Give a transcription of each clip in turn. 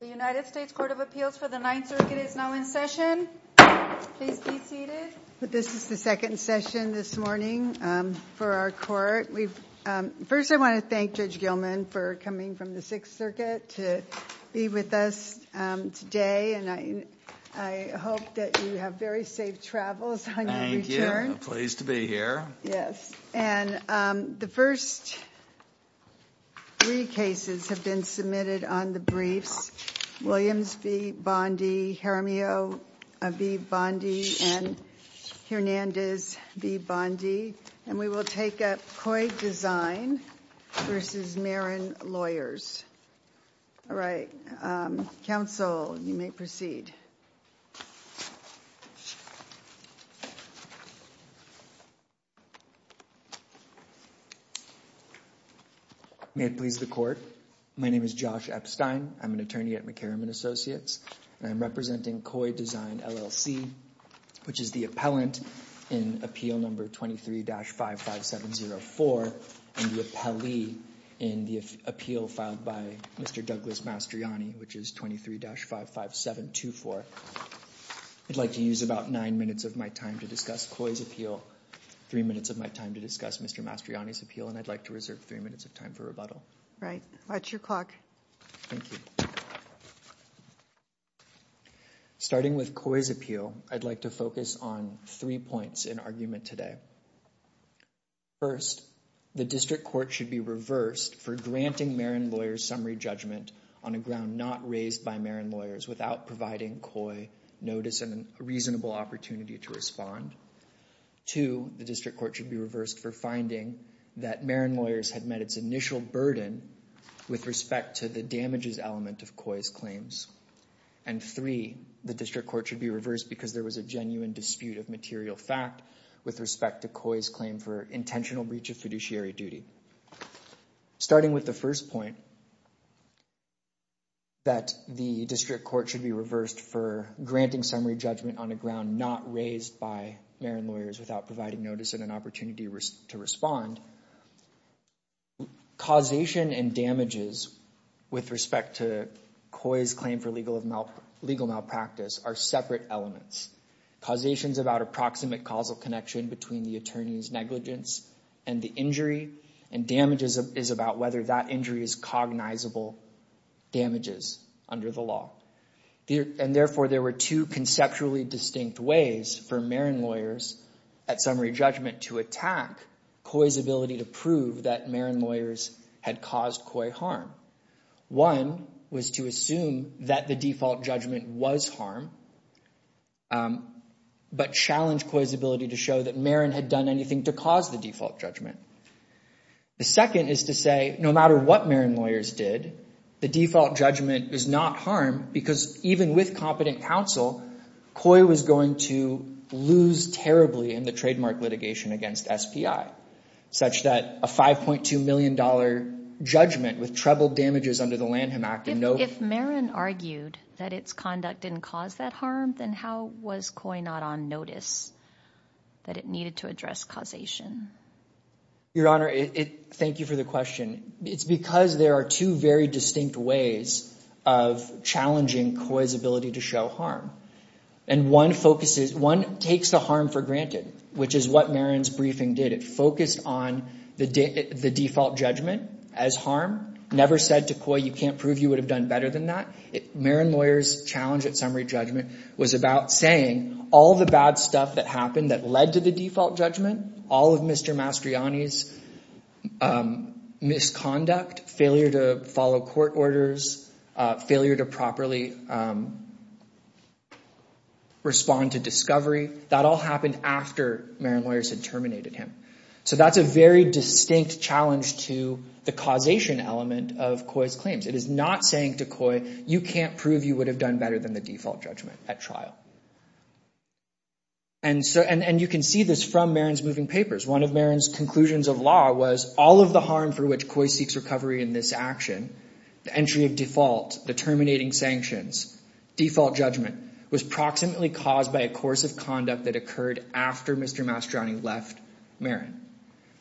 The United States Court of Appeals for the Ninth Circuit is now in session. Please be seated. This is the second session this morning for our court. First, I want to thank Judge Gilman for coming from the Sixth Circuit to be with us today, and I hope that you have very safe travels on your return. Thank you. I'm pleased to be here. Yes. And the first three cases have been submitted on the briefs, Williams v. Bondi, Jaramillo v. Bondi, and Hernandez v. Bondi, and we will take up Koi Design v. Marron Lawyers. All right. Counsel, you may proceed. May it please the court. My name is Josh Epstein. I'm an attorney at McCarran & Associates, and I'm representing Koi Design LLC, which is the appellant in Appeal No. 23-55704 and the appellee in the appeal filed by Mr. Douglas Mastriani, which is 23-55724. I'd like to use about nine minutes of my time to discuss Koi's appeal, three minutes of my time to discuss Mr. Mastriani's appeal, and I'd like to reserve three minutes of time for rebuttal. Right. Watch your clock. Thank you. Starting with Koi's appeal, I'd like to focus on three points in argument today. First, the district court should be reversed for granting Marron Lawyers' summary judgment on a ground not raised by Marron Lawyers without providing Koi notice and a reasonable opportunity to respond. Two, the district court should be reversed for finding that Marron Lawyers had met its initial burden with respect to the damages element of Koi's claims. And three, the district court should be reversed because there was a genuine dispute of material fact with respect to Koi's claim for intentional breach of fiduciary duty. Starting with the first point, that the district court should be reversed for granting summary judgment on a ground not raised by Marron Lawyers without providing notice and an opportunity to respond. Causation and damages with respect to Koi's claim for legal malpractice are separate elements. Causation is about approximate causal connection between the attorney's negligence and the injury, and damages is about whether that injury is cognizable damages under the law. And therefore, there were two conceptually distinct ways for Marron Lawyers at summary judgment to attack Koi's ability to prove that Marron Lawyers had caused Koi harm. One was to assume that the default judgment was harm, but challenge Koi's ability to show that Marron had done anything to cause the default judgment. The second is to say, no matter what Marron Lawyers did, the default judgment is not harm, because even with competent counsel, Koi was going to lose terribly in the trademark litigation against SPI, such that a $5.2 million judgment with treble damages under the Lanham Act and no- If Marron argued that its conduct didn't cause that harm, then how was Koi not on notice that it needed to address causation? Your Honor, thank you for the question. It's because there are two very distinct ways of challenging Koi's ability to show harm. And one focuses, one takes the harm for granted, which is what Marron's briefing did. It focused on the default judgment as harm, never said to Koi, you can't prove you would have done better than that. Marron Lawyers' challenge at summary judgment was about saying all the bad stuff that happened that led to the default judgment, all of Mr. Mastriani's misconduct, failure to follow court orders, failure to properly respond to discovery, that all happened after Marron Lawyers had terminated him. So that's a very distinct challenge to the causation element of Koi's claims. It is not saying to Koi, you can't prove you would have done better than the default judgment at trial. And you can see this from Marron's moving papers. One of Marron's conclusions of law was all of the harm for which Koi seeks recovery in this action, the entry of default, the terminating sanctions, default judgment, was proximately caused by a course of conduct that occurred after Mr. Mastriani left Marron.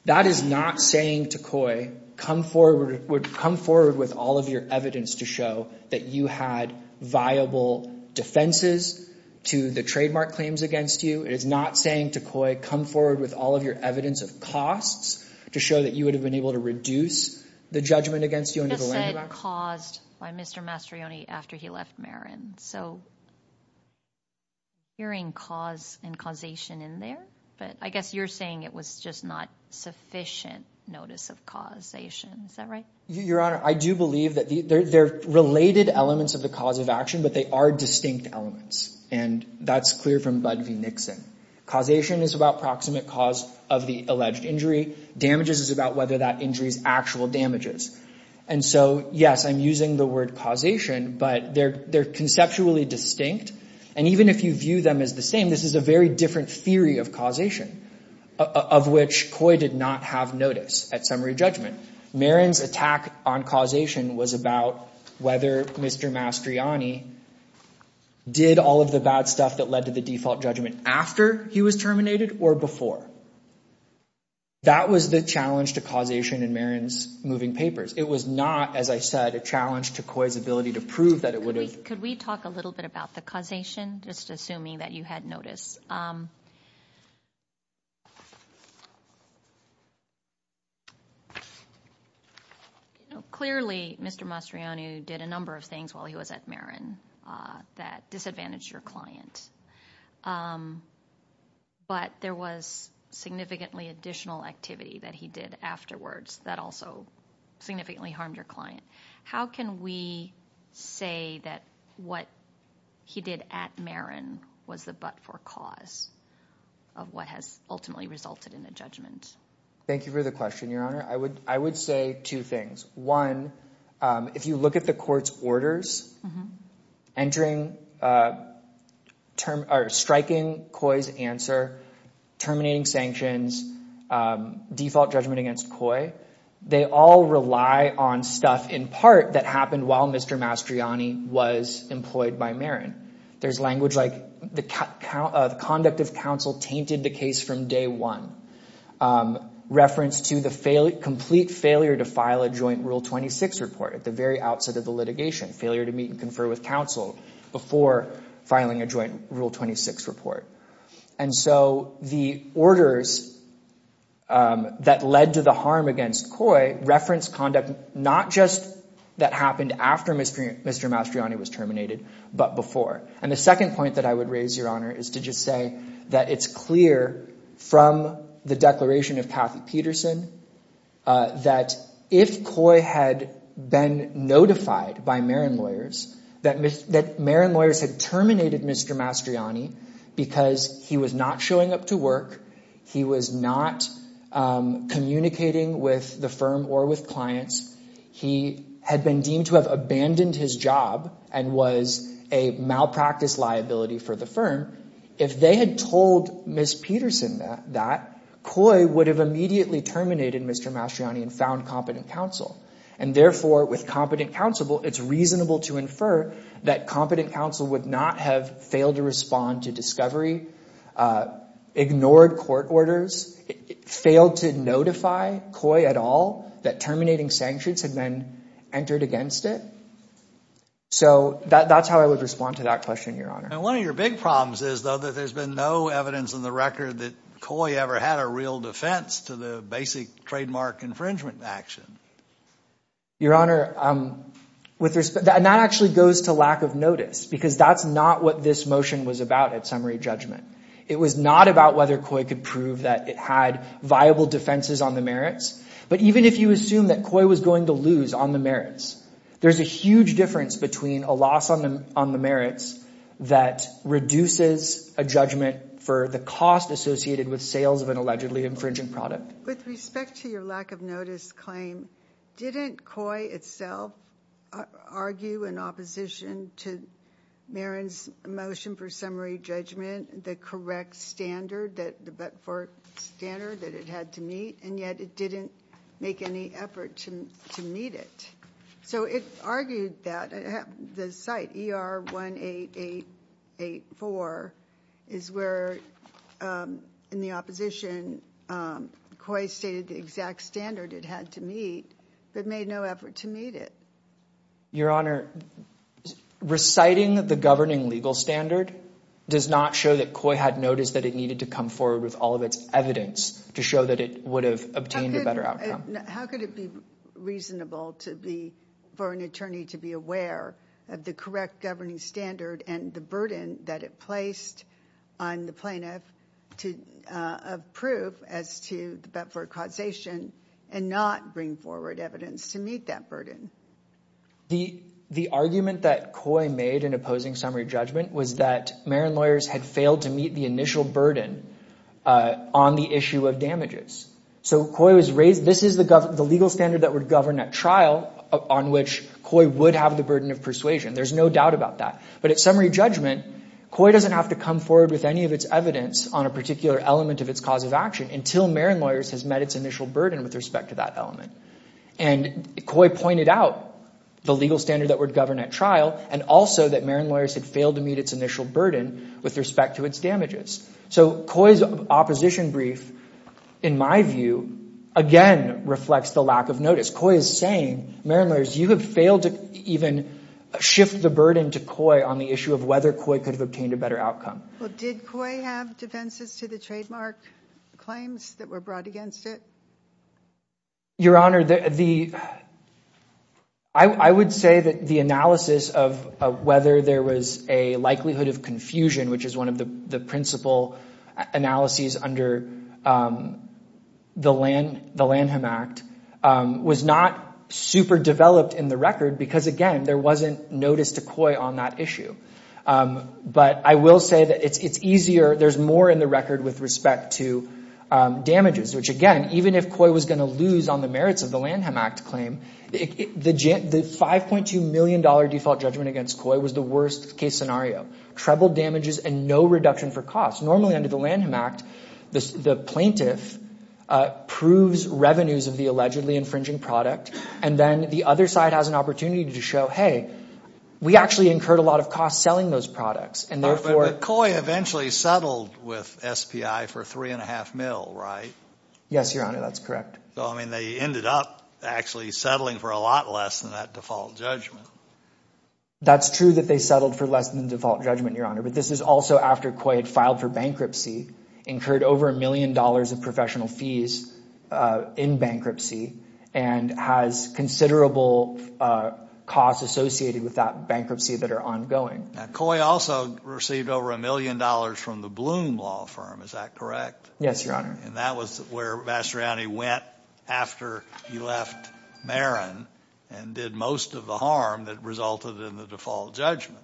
That is not saying to Koi, come forward with all of your evidence to show that you had viable defenses to the trademark claims against you. It is not saying to Koi, come forward with all of your evidence of costs to show that you would have been able to reduce the judgment against you under the landmarks. You just said caused by Mr. Mastriani after he left Marron. So hearing cause and causation in there, but I guess you're saying it was just not sufficient notice of causation, is that right? Your Honor, I do believe that they're related elements of the cause of action, but they are distinct elements. And that's clear from Bud v. Nixon. Causation is about proximate cause of the alleged injury. Damages is about whether that injury is actual damages. And so, yes, I'm using the word causation, but they're conceptually distinct. And even if you view them as the same, this is a very different theory of causation of which Koi did not have notice at summary judgment. Marron's attack on causation was about whether Mr. Mastriani did all of the bad stuff that led to the default judgment after he was terminated or before. That was the challenge to causation in Marron's moving papers. It was not, as I said, a challenge to Koi's ability to prove that it would have. Could we talk a little bit about the causation, just assuming that you had notice? Clearly, Mr. Mastriani did a number of things while he was at Marron that disadvantaged your client. But there was significantly additional activity that he did afterwards that also significantly harmed your client. How can we say that what he did at Marron was the but for cause of what has ultimately resulted in a judgment? Thank you for the question, Your Honor. I would say two things. One, if you look at the court's orders, striking Koi's answer, terminating sanctions, default judgment against Koi, they all rely on stuff in part that happened while Mr. Mastriani was employed by Marron. There's language like the conduct of counsel tainted the case from day one. Reference to the complete failure to file a joint Rule 26 report at the very outset of the litigation, failure to meet and confer with counsel before filing a joint Rule 26 report. And so the orders that led to the harm against Koi referenced conduct not just that happened after Mr. Mastriani was terminated, but before. And the second point that I would raise, Your Honor, is to just say that it's clear from the declaration of Kathy Peterson that if Koi had been notified by Marron lawyers, that Marron lawyers had terminated Mr. Mastriani because he was not showing up to work, he was not communicating with the firm or with clients, he had been deemed to have abandoned his job and was a malpractice liability for the firm. If they had told Ms. Peterson that, Koi would have immediately terminated Mr. Mastriani and found competent counsel. And therefore, with competent counsel, it's reasonable to infer that competent counsel would not have failed to respond to discovery, ignored court orders, failed to notify Koi at all that terminating sanctions had been entered against it. So that's how I would respond to that question, Your Honor. And one of your big problems is, though, that there's been no evidence in the record that Koi ever had a real defense to the basic trademark infringement action. Your Honor, that actually goes to lack of notice, because that's not what this motion was about at summary judgment. It was not about whether Koi could prove that it had viable defenses on the merits. But even if you assume that Koi was going to lose on the merits, there's a huge difference between a loss on the merits that reduces a judgment for the cost associated with sales of an allegedly infringing product. With respect to your lack of notice claim, didn't Koi itself argue in opposition to Marin's motion for summary judgment, the correct standard, the Betford standard that it had to meet, and yet it didn't make any effort to meet it? So it argued that the site ER18884 is where, in the opposition, Koi stated the exact standard it had to meet, but made no effort to meet it. Your Honor, reciting the governing legal standard does not show that Koi had noticed that it needed to come forward with all of its evidence to show that it would have obtained a better outcome. How could it be reasonable for an attorney to be aware of the correct governing standard and the burden that it placed on the plaintiff to approve as to the Betford causation and not bring forward evidence to meet that burden? The argument that Koi made in opposing summary judgment was that Marin lawyers had failed to meet the initial burden on the issue of damages. So Koi was raised, this is the legal standard that would govern a trial on which Koi would have the burden of persuasion. There's no doubt about that. But at summary judgment, Koi doesn't have to come forward with any of its evidence on a particular element of its cause of action until Marin lawyers has met its initial burden with respect to that element. And Koi pointed out the legal standard that would govern at trial and also that Marin lawyers had failed to meet its initial burden with respect to its damages. So Koi's opposition brief, in my view, again reflects the lack of notice. As Koi is saying, Marin lawyers, you have failed to even shift the burden to Koi on the issue of whether Koi could have obtained a better outcome. Well, did Koi have defenses to the trademark claims that were brought against it? Your Honor, I would say that the analysis of whether there was a likelihood of confusion, which is one of the principal analyses under the Lanham Act, was not super developed in the record because, again, there wasn't notice to Koi on that issue. But I will say that it's easier, there's more in the record with respect to damages, which again, even if Koi was going to lose on the merits of the Lanham Act claim, the $5.2 million default judgment against Koi was the worst case scenario. Treble damages and no reduction for costs. Normally under the Lanham Act, the plaintiff proves revenues of the allegedly infringing product and then the other side has an opportunity to show, hey, we actually incurred a lot of costs selling those products and therefore. But Koi eventually settled with SPI for 3.5 mil, right? Yes, Your Honor, that's correct. So, I mean, they ended up actually settling for a lot less than that default judgment. That's true that they settled for less than default judgment, Your Honor, but this is also after Koi had filed for bankruptcy, incurred over a million dollars of professional fees in bankruptcy and has considerable costs associated with that bankruptcy that are ongoing. Now, Koi also received over a million dollars from the Bloom Law Firm, is that correct? Yes, Your Honor. And that was where Mastriani went after he left Marin and did most of the harm that resulted in the default judgment.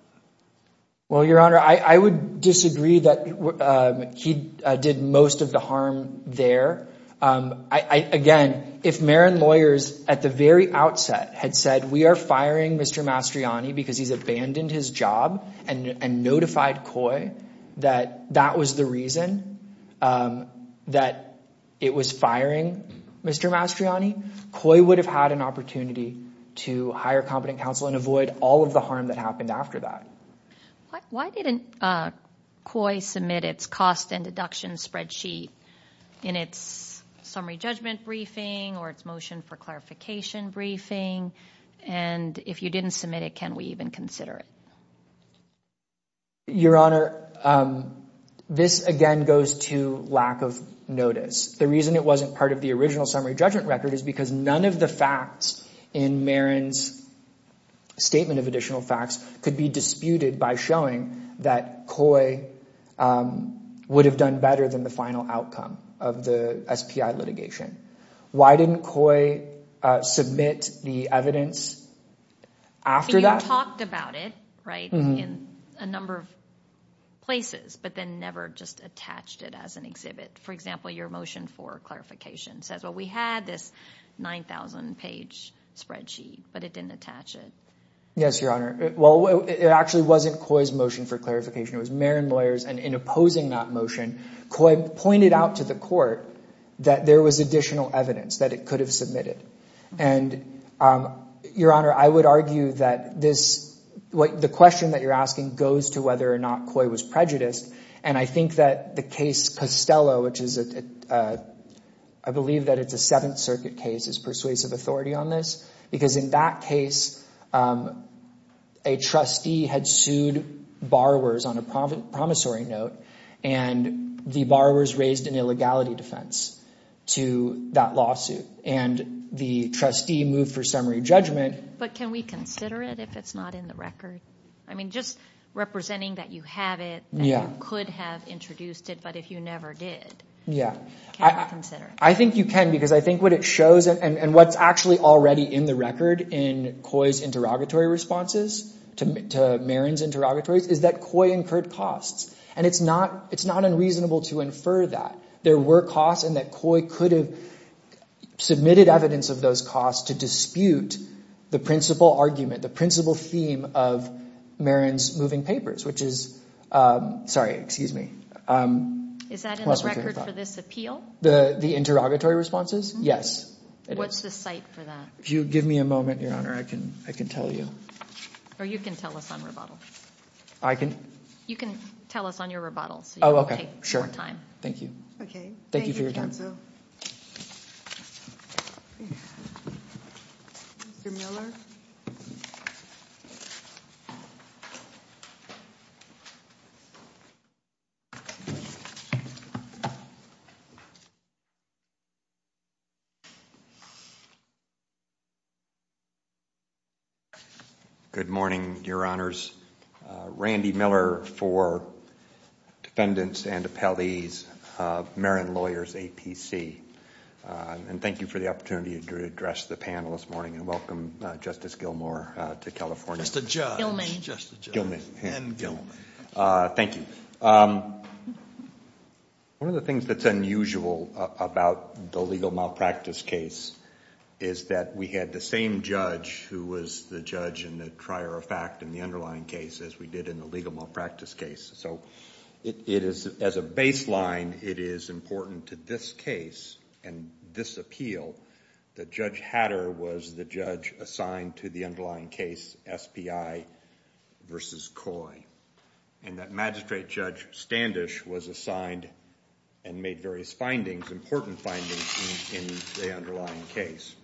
Well, Your Honor, I would disagree that he did most of the harm there. Again, if Marin lawyers at the very outset had said, we are firing Mr. Mastriani because he's abandoned his job and notified Koi that that was the reason that it was firing Mr. Mastriani, Koi would have had an opportunity to hire competent counsel and avoid all of the harm that happened after that. Why didn't Koi submit its cost and deduction spreadsheet in its summary judgment briefing or its motion for clarification briefing? And if you didn't submit it, can we even consider it? Your Honor, this again goes to lack of notice. The reason it wasn't part of the original summary judgment record is because none of the facts in Marin's statement of additional facts could be disputed by showing that Koi would have done better than the final outcome of the SPI litigation. Why didn't Koi submit the evidence after that? Koi talked about it, right, in a number of places, but then never just attached it as an exhibit. For example, your motion for clarification says, well, we had this 9,000-page spreadsheet, but it didn't attach it. Yes, Your Honor. Well, it actually wasn't Koi's motion for clarification. It was Marin lawyers, and in opposing that motion, Koi pointed out to the court that there was additional evidence that it could have submitted. And, Your Honor, I would argue that this, the question that you're asking goes to whether or not Koi was prejudiced, and I think that the case Costello, which is, I believe that it's a Seventh Circuit case, is persuasive authority on this, because in that case, a trustee had sued borrowers on a promissory note, and the borrowers raised an illegality defense to that lawsuit. And the trustee moved for summary judgment. But can we consider it if it's not in the record? I mean, just representing that you have it, and you could have introduced it, but if you never did, can we consider it? I think you can, because I think what it shows, and what's actually already in the record in Koi's interrogatory responses to Marin's interrogatories, is that Koi incurred costs. And it's not unreasonable to infer that. There were costs, and that Koi could have submitted evidence of those costs to dispute the principal argument, the principal theme of Marin's moving papers, which is, sorry, excuse me. Is that in the record for this appeal? The interrogatory responses? Yes. What's the site for that? If you give me a moment, Your Honor, I can tell you. Or you can tell us on rebuttal. I can? You can tell us on your rebuttal, so you can take more time. Thank you. Okay. Thank you for your time. Mr. Miller? Good morning, Your Honors. Randy Miller for defendants and appellees of Marin Lawyers APC. And thank you for the opportunity to address the panel this morning and welcome Justice Gilmour to California. Just a judge. Gilman. Just a judge. Gilman. And Gilman. Thank you. One of the things that's unusual about the legal malpractice case is that we had the same judge who was the judge in the trier of fact in the underlying case as we did in the legal malpractice case. So it is, as a baseline, it is important to this case and this appeal that Judge Hatter was the judge assigned to the underlying case, SPI versus Coy. And that Magistrate Judge Standish was assigned and made various findings, important findings in the underlying case.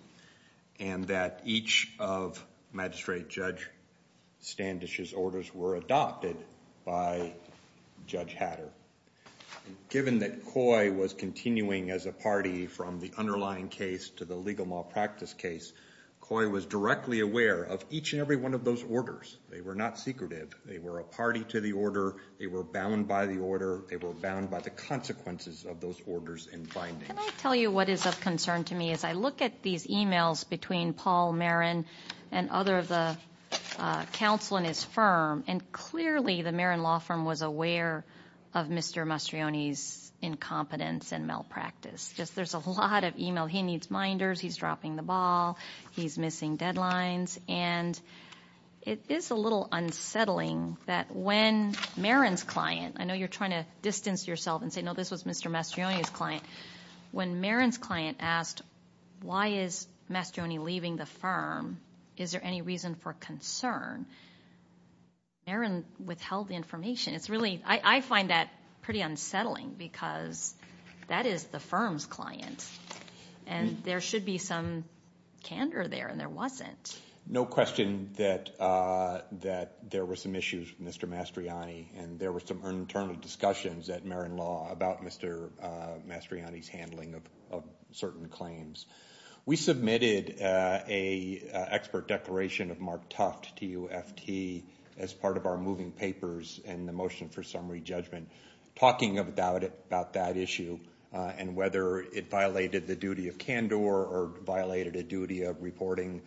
And that each of Magistrate Judge Standish's orders were adopted by Judge Hatter. Given that Coy was continuing as a party from the underlying case to the legal malpractice case, Coy was directly aware of each and every one of those orders. They were not secretive. They were a party to the order. They were bound by the order. They were bound by the consequences of those orders and findings. Can I tell you what is of concern to me as I look at these emails between Paul Marin and other of the counsel in his firm, and clearly the Marin Law Firm was aware of Mr. Mastrioni's incompetence and malpractice. Just there's a lot of email. He needs minders. He's dropping the ball. He's missing deadlines. And it is a little unsettling that when Marin's client, I know you're trying to distance yourself and say, no, this was Mr. Mastrioni's client. When Marin's client asked, why is Mastrioni leaving the firm? Is there any reason for concern? Marin withheld the information. It's really, I find that pretty unsettling because that is the firm's client. And there should be some candor there, and there wasn't. No question that there were some issues with Mr. Mastrioni, and there were some internal discussions at Marin Law about Mr. Mastrioni's handling of certain claims. We submitted a expert declaration of Mark Tuft to UFT as part of our moving papers and the motion for summary judgment, talking about that issue and whether it violated the duty of candor or violated a duty of reporting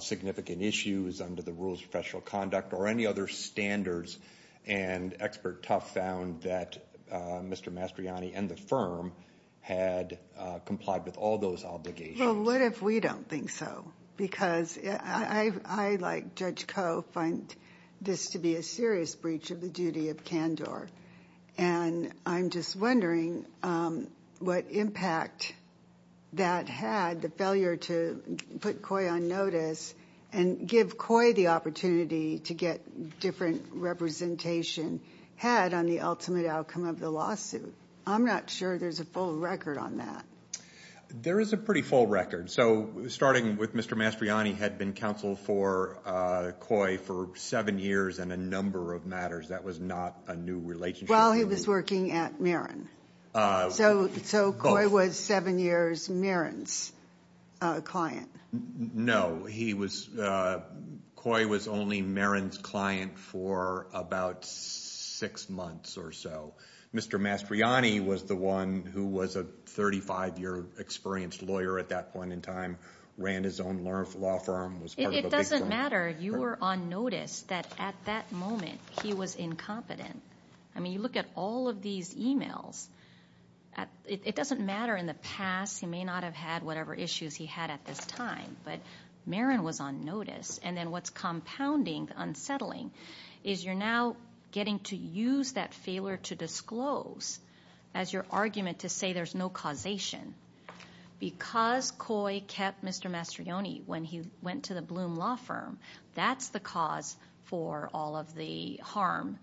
significant issues under the rules of professional conduct or any other standards. And expert Tuft found that Mr. Mastrioni and the firm had complied with all those obligations. Well, what if we don't think so? Because I, like Judge Koh, find this to be a serious breach of the duty of candor. And I'm just wondering what impact that had, the failure to put COI on notice and give COI the opportunity to get different representation had on the ultimate outcome of the lawsuit. I'm not sure there's a full record on that. There is a pretty full record. So, starting with Mr. Mastrioni had been counsel for COI for seven years and a number of matters that was not a new relationship. While he was working at Marin. So, COI was seven years Marin's client. No, he was, COI was only Marin's client for about six months or so. Mr. Mastrioni was the one who was a 35-year experienced lawyer at that point in time, ran his own law firm, was part of a big firm. It doesn't matter, you were on notice that at that moment he was incompetent. I mean, you look at all of these emails, it doesn't matter in the past, he may not have had whatever issues he had at this time, but Marin was on notice. And then what's compounding, unsettling, is you're now getting to use that failure to disclose as your argument to say there's no causation. Because COI kept Mr. Mastrioni when he went to the Bloom Law Firm, that's the cause for all of the harm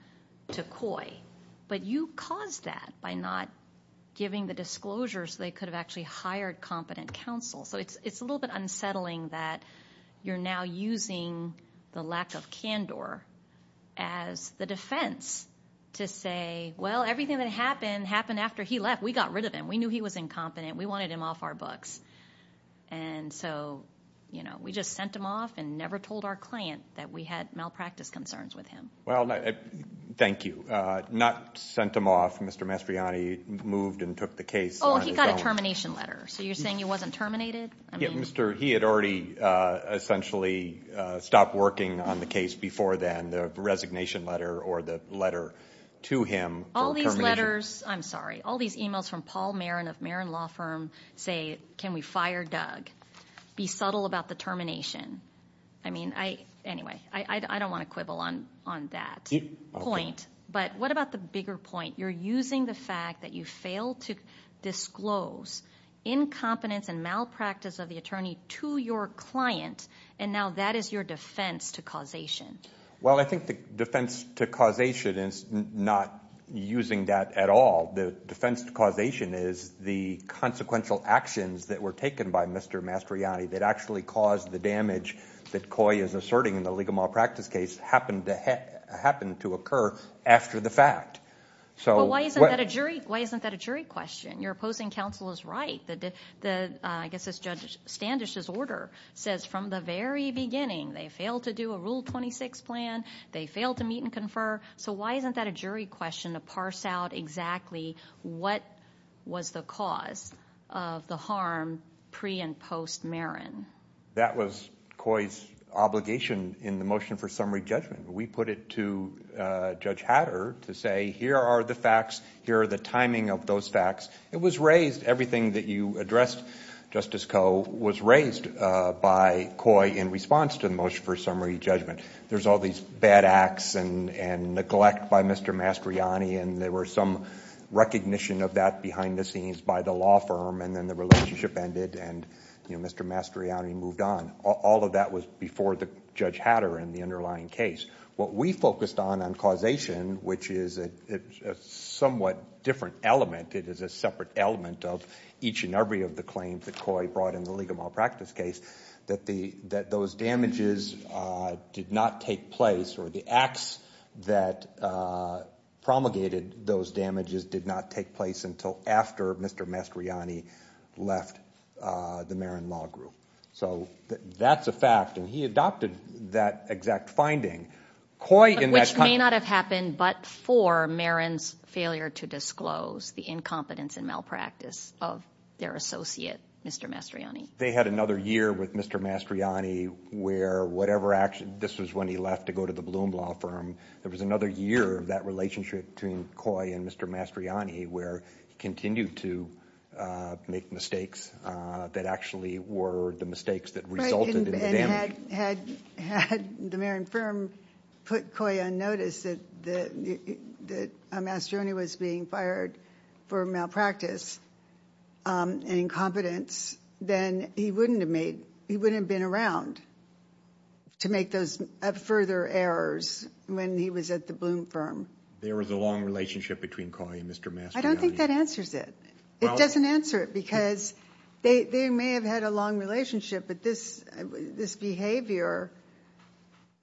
to COI. But you caused that by not giving the disclosure so they could have actually hired competent counsel. So, it's a little bit unsettling that you're now using the lack of candor as the defense to say, well, everything that happened, happened after he left. We got rid of him. We knew he was incompetent. We wanted him off our books. And so, you know, we just sent him off and never told our client that we had malpractice concerns with him. Well, thank you. Not sent him off, Mr. Mastrioni moved and took the case on his own. Oh, he got a termination letter. So, you're saying he wasn't terminated? Yeah, he had already essentially stopped working on the case before then, the resignation letter or the letter to him for termination. All these letters, I'm sorry, all these emails from Paul Marin of Marin Law Firm say, can we fire Doug? Be subtle about the termination. I mean, I, anyway, I don't want to quibble on that point. But what about the bigger point? You're using the fact that you failed to disclose incompetence and malpractice of the attorney to your client and now that is your defense to causation. Well, I think the defense to causation is not using that at all. The defense to causation is the consequential actions that were taken by Mr. Mastrioni that actually caused the damage that Coy is asserting in the legal malpractice case happened to occur after the fact. So, why isn't that a jury question? You're opposing counsel's right. I guess Judge Standish's order says from the very beginning they failed to do a Rule 26 plan, they failed to meet and confer. So, why isn't that a jury question to parse out exactly what was the cause of the harm pre and post Marin? That was Coy's obligation in the motion for summary judgment. We put it to Judge Hatter to say, here are the facts, here are the timing of those facts. It was raised, everything that you addressed, Justice Coe, was raised by Coy in response to the motion for summary judgment. There's all these bad acts and neglect by Mr. Mastrioni and there were some recognition of that behind the scenes by the law firm and then the relationship ended and Mr. Mastrioni moved on. All of that was before the Judge Hatter in the underlying case. What we focused on, on causation, which is a somewhat different element, it is a separate element of each and every of the claims that Coy brought in the League of Malpractice case, that those damages did not take place or the acts that promulgated those damages did not take place until after Mr. Mastrioni left the Marin Law Group. So, that's a fact and he adopted that exact finding. Coy in that time- Which may not have happened but for Marin's failure to disclose the incompetence and malpractice of their associate, Mr. Mastrioni. They had another year with Mr. Mastrioni where whatever action, this was when he left to go to the Bloom Law Firm. There was another year of that relationship between Coy and Mr. Mastrioni where he continued to make mistakes that actually were the mistakes that resulted in the damage. Had the Marin Firm put Coy on notice that Mastrioni was being fired for malpractice and incompetence, then he wouldn't have been around to make those further errors when he was at the Bloom Firm. There was a long relationship between Coy and Mr. Mastrioni. I don't think that answers it. It doesn't answer it because they may have had a long relationship but this behavior,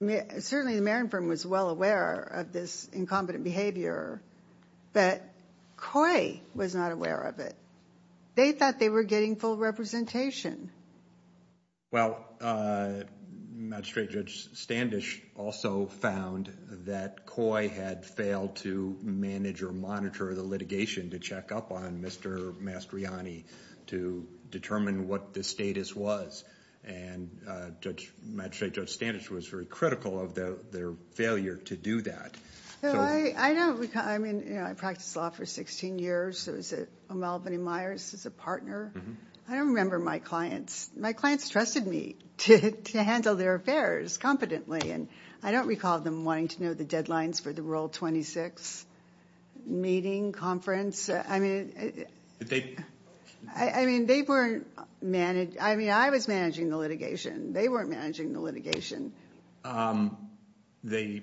certainly the Marin Firm was well aware of this incompetent behavior but Coy was not aware of it. They thought they were getting full representation. Well, Magistrate Judge Standish also found that Coy had failed to manage or monitor the litigation to check up on Mr. Mastrioni to determine what the status was. And Magistrate Judge Standish was very critical of their failure to do that. I mean, I practiced law for 16 years. I was at O'Malvin and Myers as a partner. I don't remember my clients. My clients trusted me to handle their affairs competently and I don't recall them wanting to know the deadlines for the Rural 26 meeting, conference. I mean, I was managing the litigation. They weren't managing the litigation. The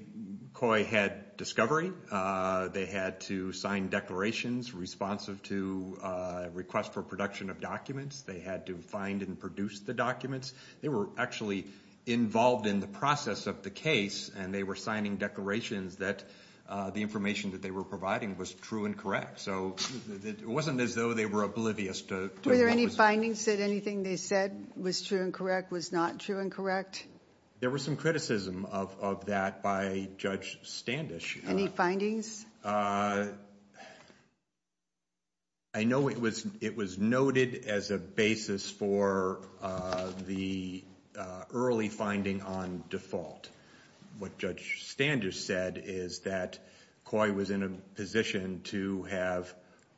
Coy had discovery. They had to sign declarations responsive to request for production of documents. They had to find and produce the documents. They were actually involved in the process of the case and they were signing declarations that the information that they were providing was true and correct. So it wasn't as though they were oblivious to... Were there any findings that anything they said was true and correct was not true and correct? There was some criticism of that by Judge Standish. I know it was noted as a basis for the early finding on default. What Judge Standish said is that Coy was in a position to have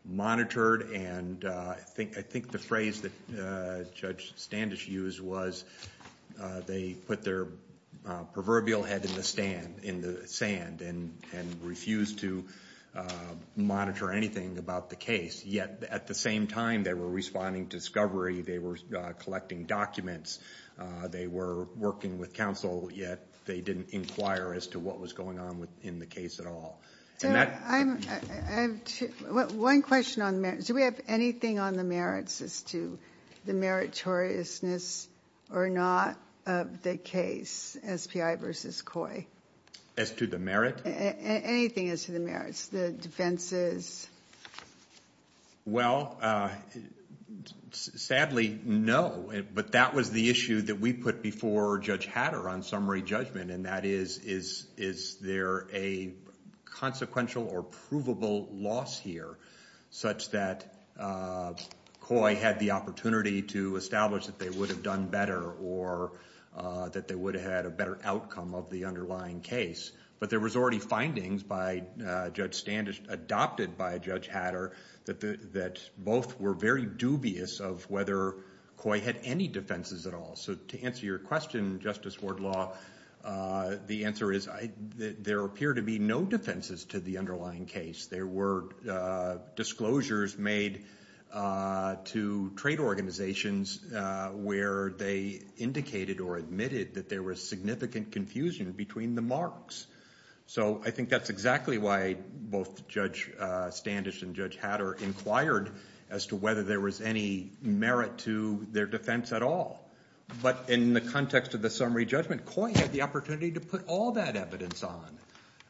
monitored and I think the phrase that Judge Standish used was they put their proverbial head in the sand and refused to monitor anything about the case. Yet at the same time, they were responding to discovery. They were collecting documents. They were working with counsel, yet they didn't inquire as to what was going on in the case at all. One question on the merits. Do we have anything on the merits as to the meritoriousness or not of the case, SPI versus Coy? As to the merit? Anything as to the merits, the defenses? Well, sadly, no. But that was the issue that we put before Judge Hatter on summary judgment. And that is, is there a consequential or provable loss here such that Coy had the opportunity to establish that they would have done better or that they would have had a better outcome of the underlying case. But there was already findings by Judge Standish, adopted by Judge Hatter, that both were very dubious of whether Coy had any defenses at all. So to answer your question, Justice Wardlaw, the answer is there appear to be no defenses to the underlying case. There were disclosures made to trade organizations where they indicated or admitted that there was significant confusion between the marks. So I think that's exactly why both Judge Standish and Judge Hatter inquired as to whether there was any merit to their defense at all. But in the context of the summary judgment, Coy had the opportunity to put all that evidence on.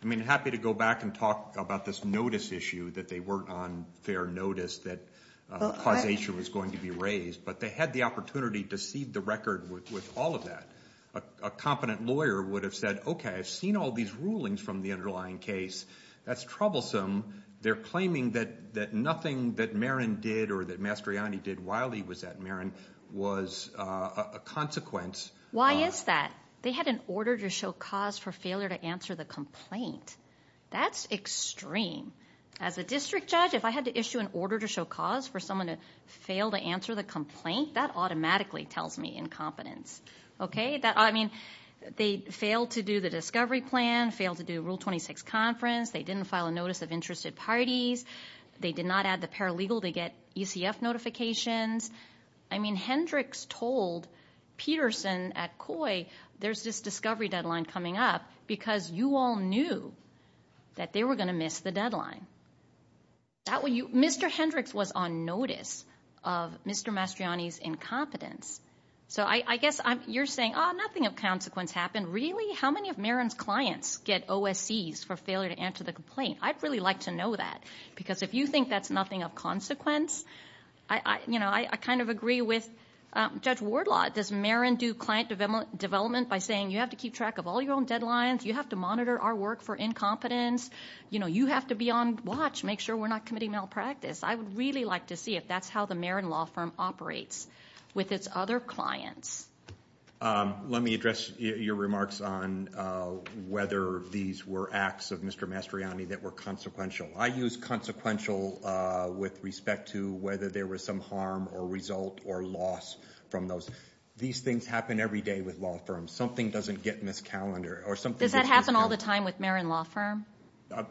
I mean, happy to go back and talk about this notice issue that they weren't on fair notice that causation was going to be raised. But they had the opportunity to seed the record with all of that. A competent lawyer would have said, OK, I've seen all these rulings from the underlying case. That's troublesome. They're claiming that nothing that Marin did or that Mastriani did while he was at Marin was a consequence. Why is that? They had an order to show cause for failure to answer the complaint. That's extreme. As a district judge, if I had to issue an order to show cause for someone to fail to answer the complaint, that automatically tells me incompetence. I mean, they failed to do the discovery plan, failed to do Rule 26 conference. They didn't file a notice of interested parties. They did not add the paralegal to get UCF notifications. I mean, Hendricks told Peterson at Coy, there's this discovery deadline coming up because you all knew that they were going to miss the deadline. Mr. Hendricks was on notice of Mr. Mastriani's incompetence. So I guess you're saying, oh, nothing of consequence happened. Really? How many of Marin's clients get OSCs for failure to answer the complaint? I'd really like to know that. Because if you think that's nothing of consequence, I kind of agree with Judge Wardlaw. Does Marin do client development by saying you have to keep track of all your own deadlines? You have to monitor our work for incompetence. You have to be on watch, make sure we're not committing malpractice. I would really like to see if that's how the Marin law firm operates with its other clients. Let me address your remarks on whether these were acts of Mr. Mastriani that were consequential. I use consequential with respect to whether there was some harm or result or loss from those. These things happen every day with law firms. Something doesn't get in this calendar or something. Does that happen all the time with Marin law firm?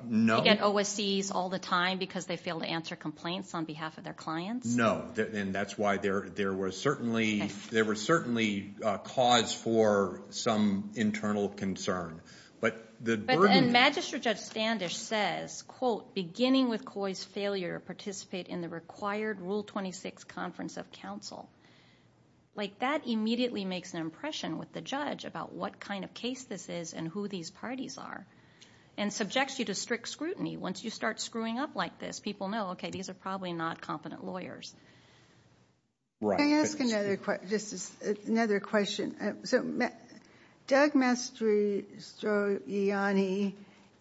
No. They get OSCs all the time because they fail to answer complaints on behalf of their clients? No. And that's why there was certainly cause for some internal concern. Magistrate Judge Standish says, quote, beginning with COI's failure to participate in the required Rule 26 conference of counsel. That immediately makes an impression with the judge about what kind of case this is and who these parties are and subjects you to strict scrutiny. Once you start screwing up like this, people know, okay, these are probably not competent lawyers. Right. Can I ask another question? This is another question. Doug Mastriani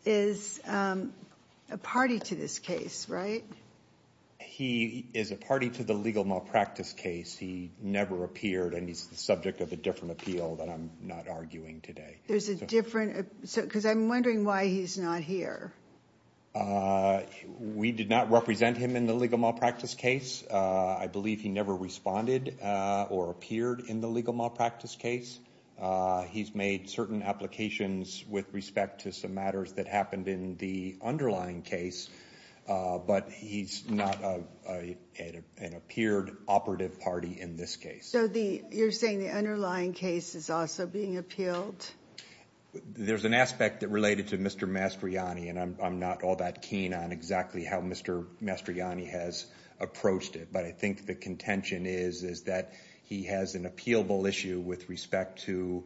is a party to this case, right? He is a party to the legal malpractice case. He never appeared and he's the subject of a different appeal that I'm not arguing today. There's a different, because I'm wondering why he's not here. Uh, we did not represent him in the legal malpractice case. I believe he never responded or appeared in the legal malpractice case. He's made certain applications with respect to some matters that happened in the underlying case, but he's not an appeared operative party in this case. So you're saying the underlying case is also being appealed? There's an aspect that related to Mr. Mastriani and I'm not all that keen on exactly how Mr. Mastriani has approached it, but I think the contention is that he has an appealable issue with respect to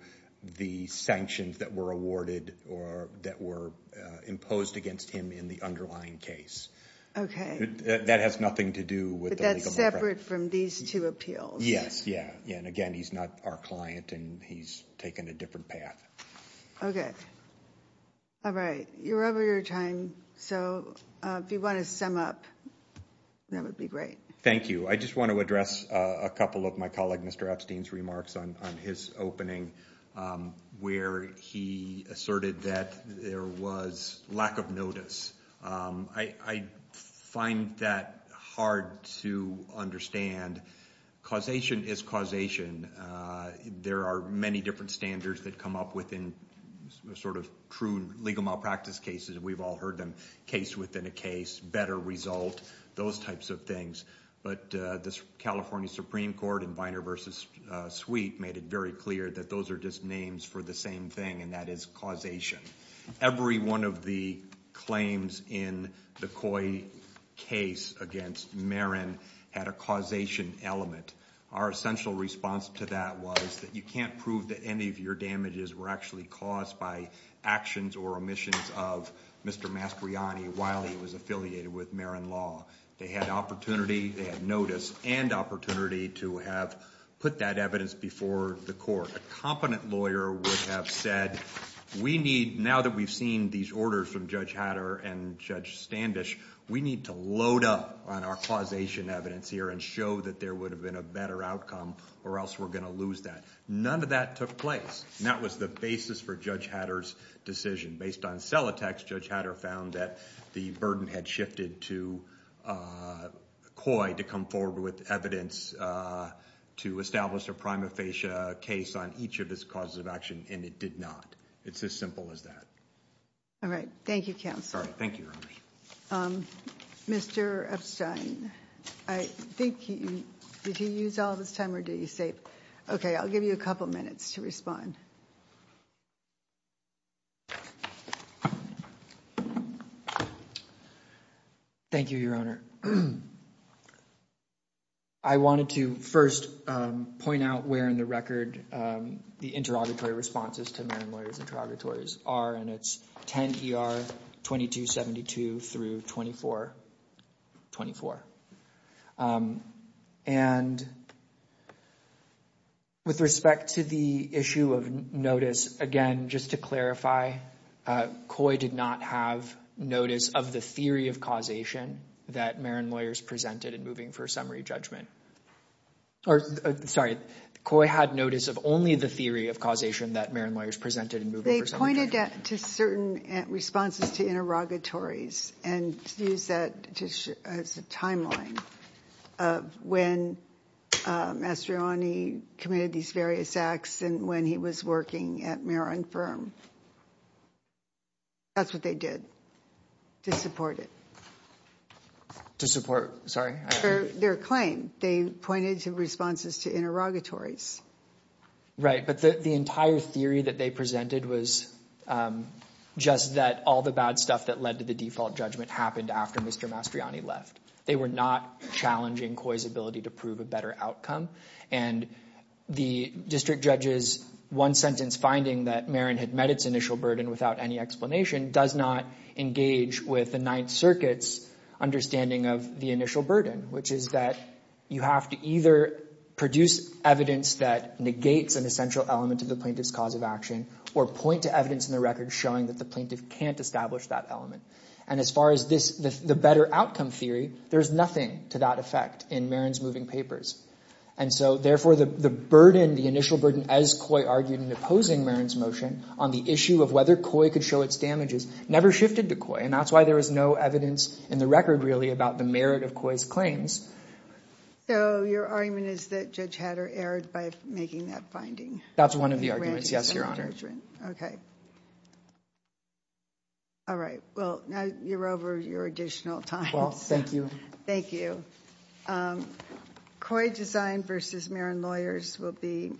the sanctions that were awarded or that were imposed against him in the underlying case. Okay. That has nothing to do with the legal malpractice. But that's separate from these two appeals? Yes. Yeah. Yeah. And again, he's not our client and he's taken a different path. Okay. All right. You're over your time. So if you want to sum up, that would be great. Thank you. I just want to address a couple of my colleague, Mr. Epstein's remarks on his opening, where he asserted that there was lack of notice. I find that hard to understand. Causation is causation. There are many different standards that come up within sort of true legal malpractice cases. We've all heard them. Case within a case, better result, those types of things. But the California Supreme Court in Viner v. Sweet made it very clear that those are just names for the same thing, and that is causation. Every one of the claims in the Coy case against Marin had a causation element. Our essential response to that was that you can't prove that any of your damages were actually caused by actions or omissions of Mr. Mastriani while he was affiliated with Marin Law. They had opportunity. They had notice and opportunity to have put that evidence before the court. A competent lawyer would have said, we need, now that we've seen these orders from Judge Hatter and Judge Standish, we need to load up on our causation evidence here and show that there would have been a better outcome or else we're going to lose that. None of that took place. That was the basis for Judge Hatter's decision. Based on cell attacks, Judge Hatter found that the burden had shifted to Coy to come forward with evidence to establish a prima facie case on each of his causes of action, and it did not. It's as simple as that. All right. Thank you, counsel. Thank you, Your Honor. Mr. Epstein, I think, did he use all of his time or did he save? Okay, I'll give you a couple minutes to respond. Thank you, Your Honor. I wanted to first point out where in the record the interrogatory responses to Marin Lawyers interrogatories are, and it's 10 ER 2272 through 2424. And with respect to the issue of notice, again, just to clarify, Coy did not have notice of the theory of causation that Marin Lawyers presented in moving for a summary judgment. Or, sorry, Coy had notice of only the theory of causation that Marin Lawyers presented. They pointed to certain responses to interrogatories and used that as a timeline of when Mastroianni committed these various acts and when he was working at Marin Firm. That's what they did to support it. To support, sorry? Their claim. They pointed to responses to interrogatories. Right, but the entire theory that they presented was just that all the bad stuff that led to the default judgment happened after Mr. Mastroianni left. They were not challenging Coy's ability to prove a better outcome. And the district judge's one sentence finding that Marin had met its initial burden without any explanation does not engage with the Ninth Circuit's understanding of the initial burden, which is that you have to either produce evidence that negates an essential element of the plaintiff's cause of action or point to evidence in the record showing that the plaintiff can't establish that element. And as far as the better outcome theory, there's nothing to that effect in Marin's moving papers. And so, therefore, the burden, the initial burden, as Coy argued in opposing Marin's motion on the issue of whether Coy could show its damages never shifted to Coy. And that's why there is no evidence in the record, really, about the merit of Coy's claims. So your argument is that Judge Hatter erred by making that finding? That's one of the arguments, yes, Your Honor. Okay. All right. Well, now you're over your additional time. Well, thank you. Thank you. Coy Design versus Marin Lawyers will be submitted.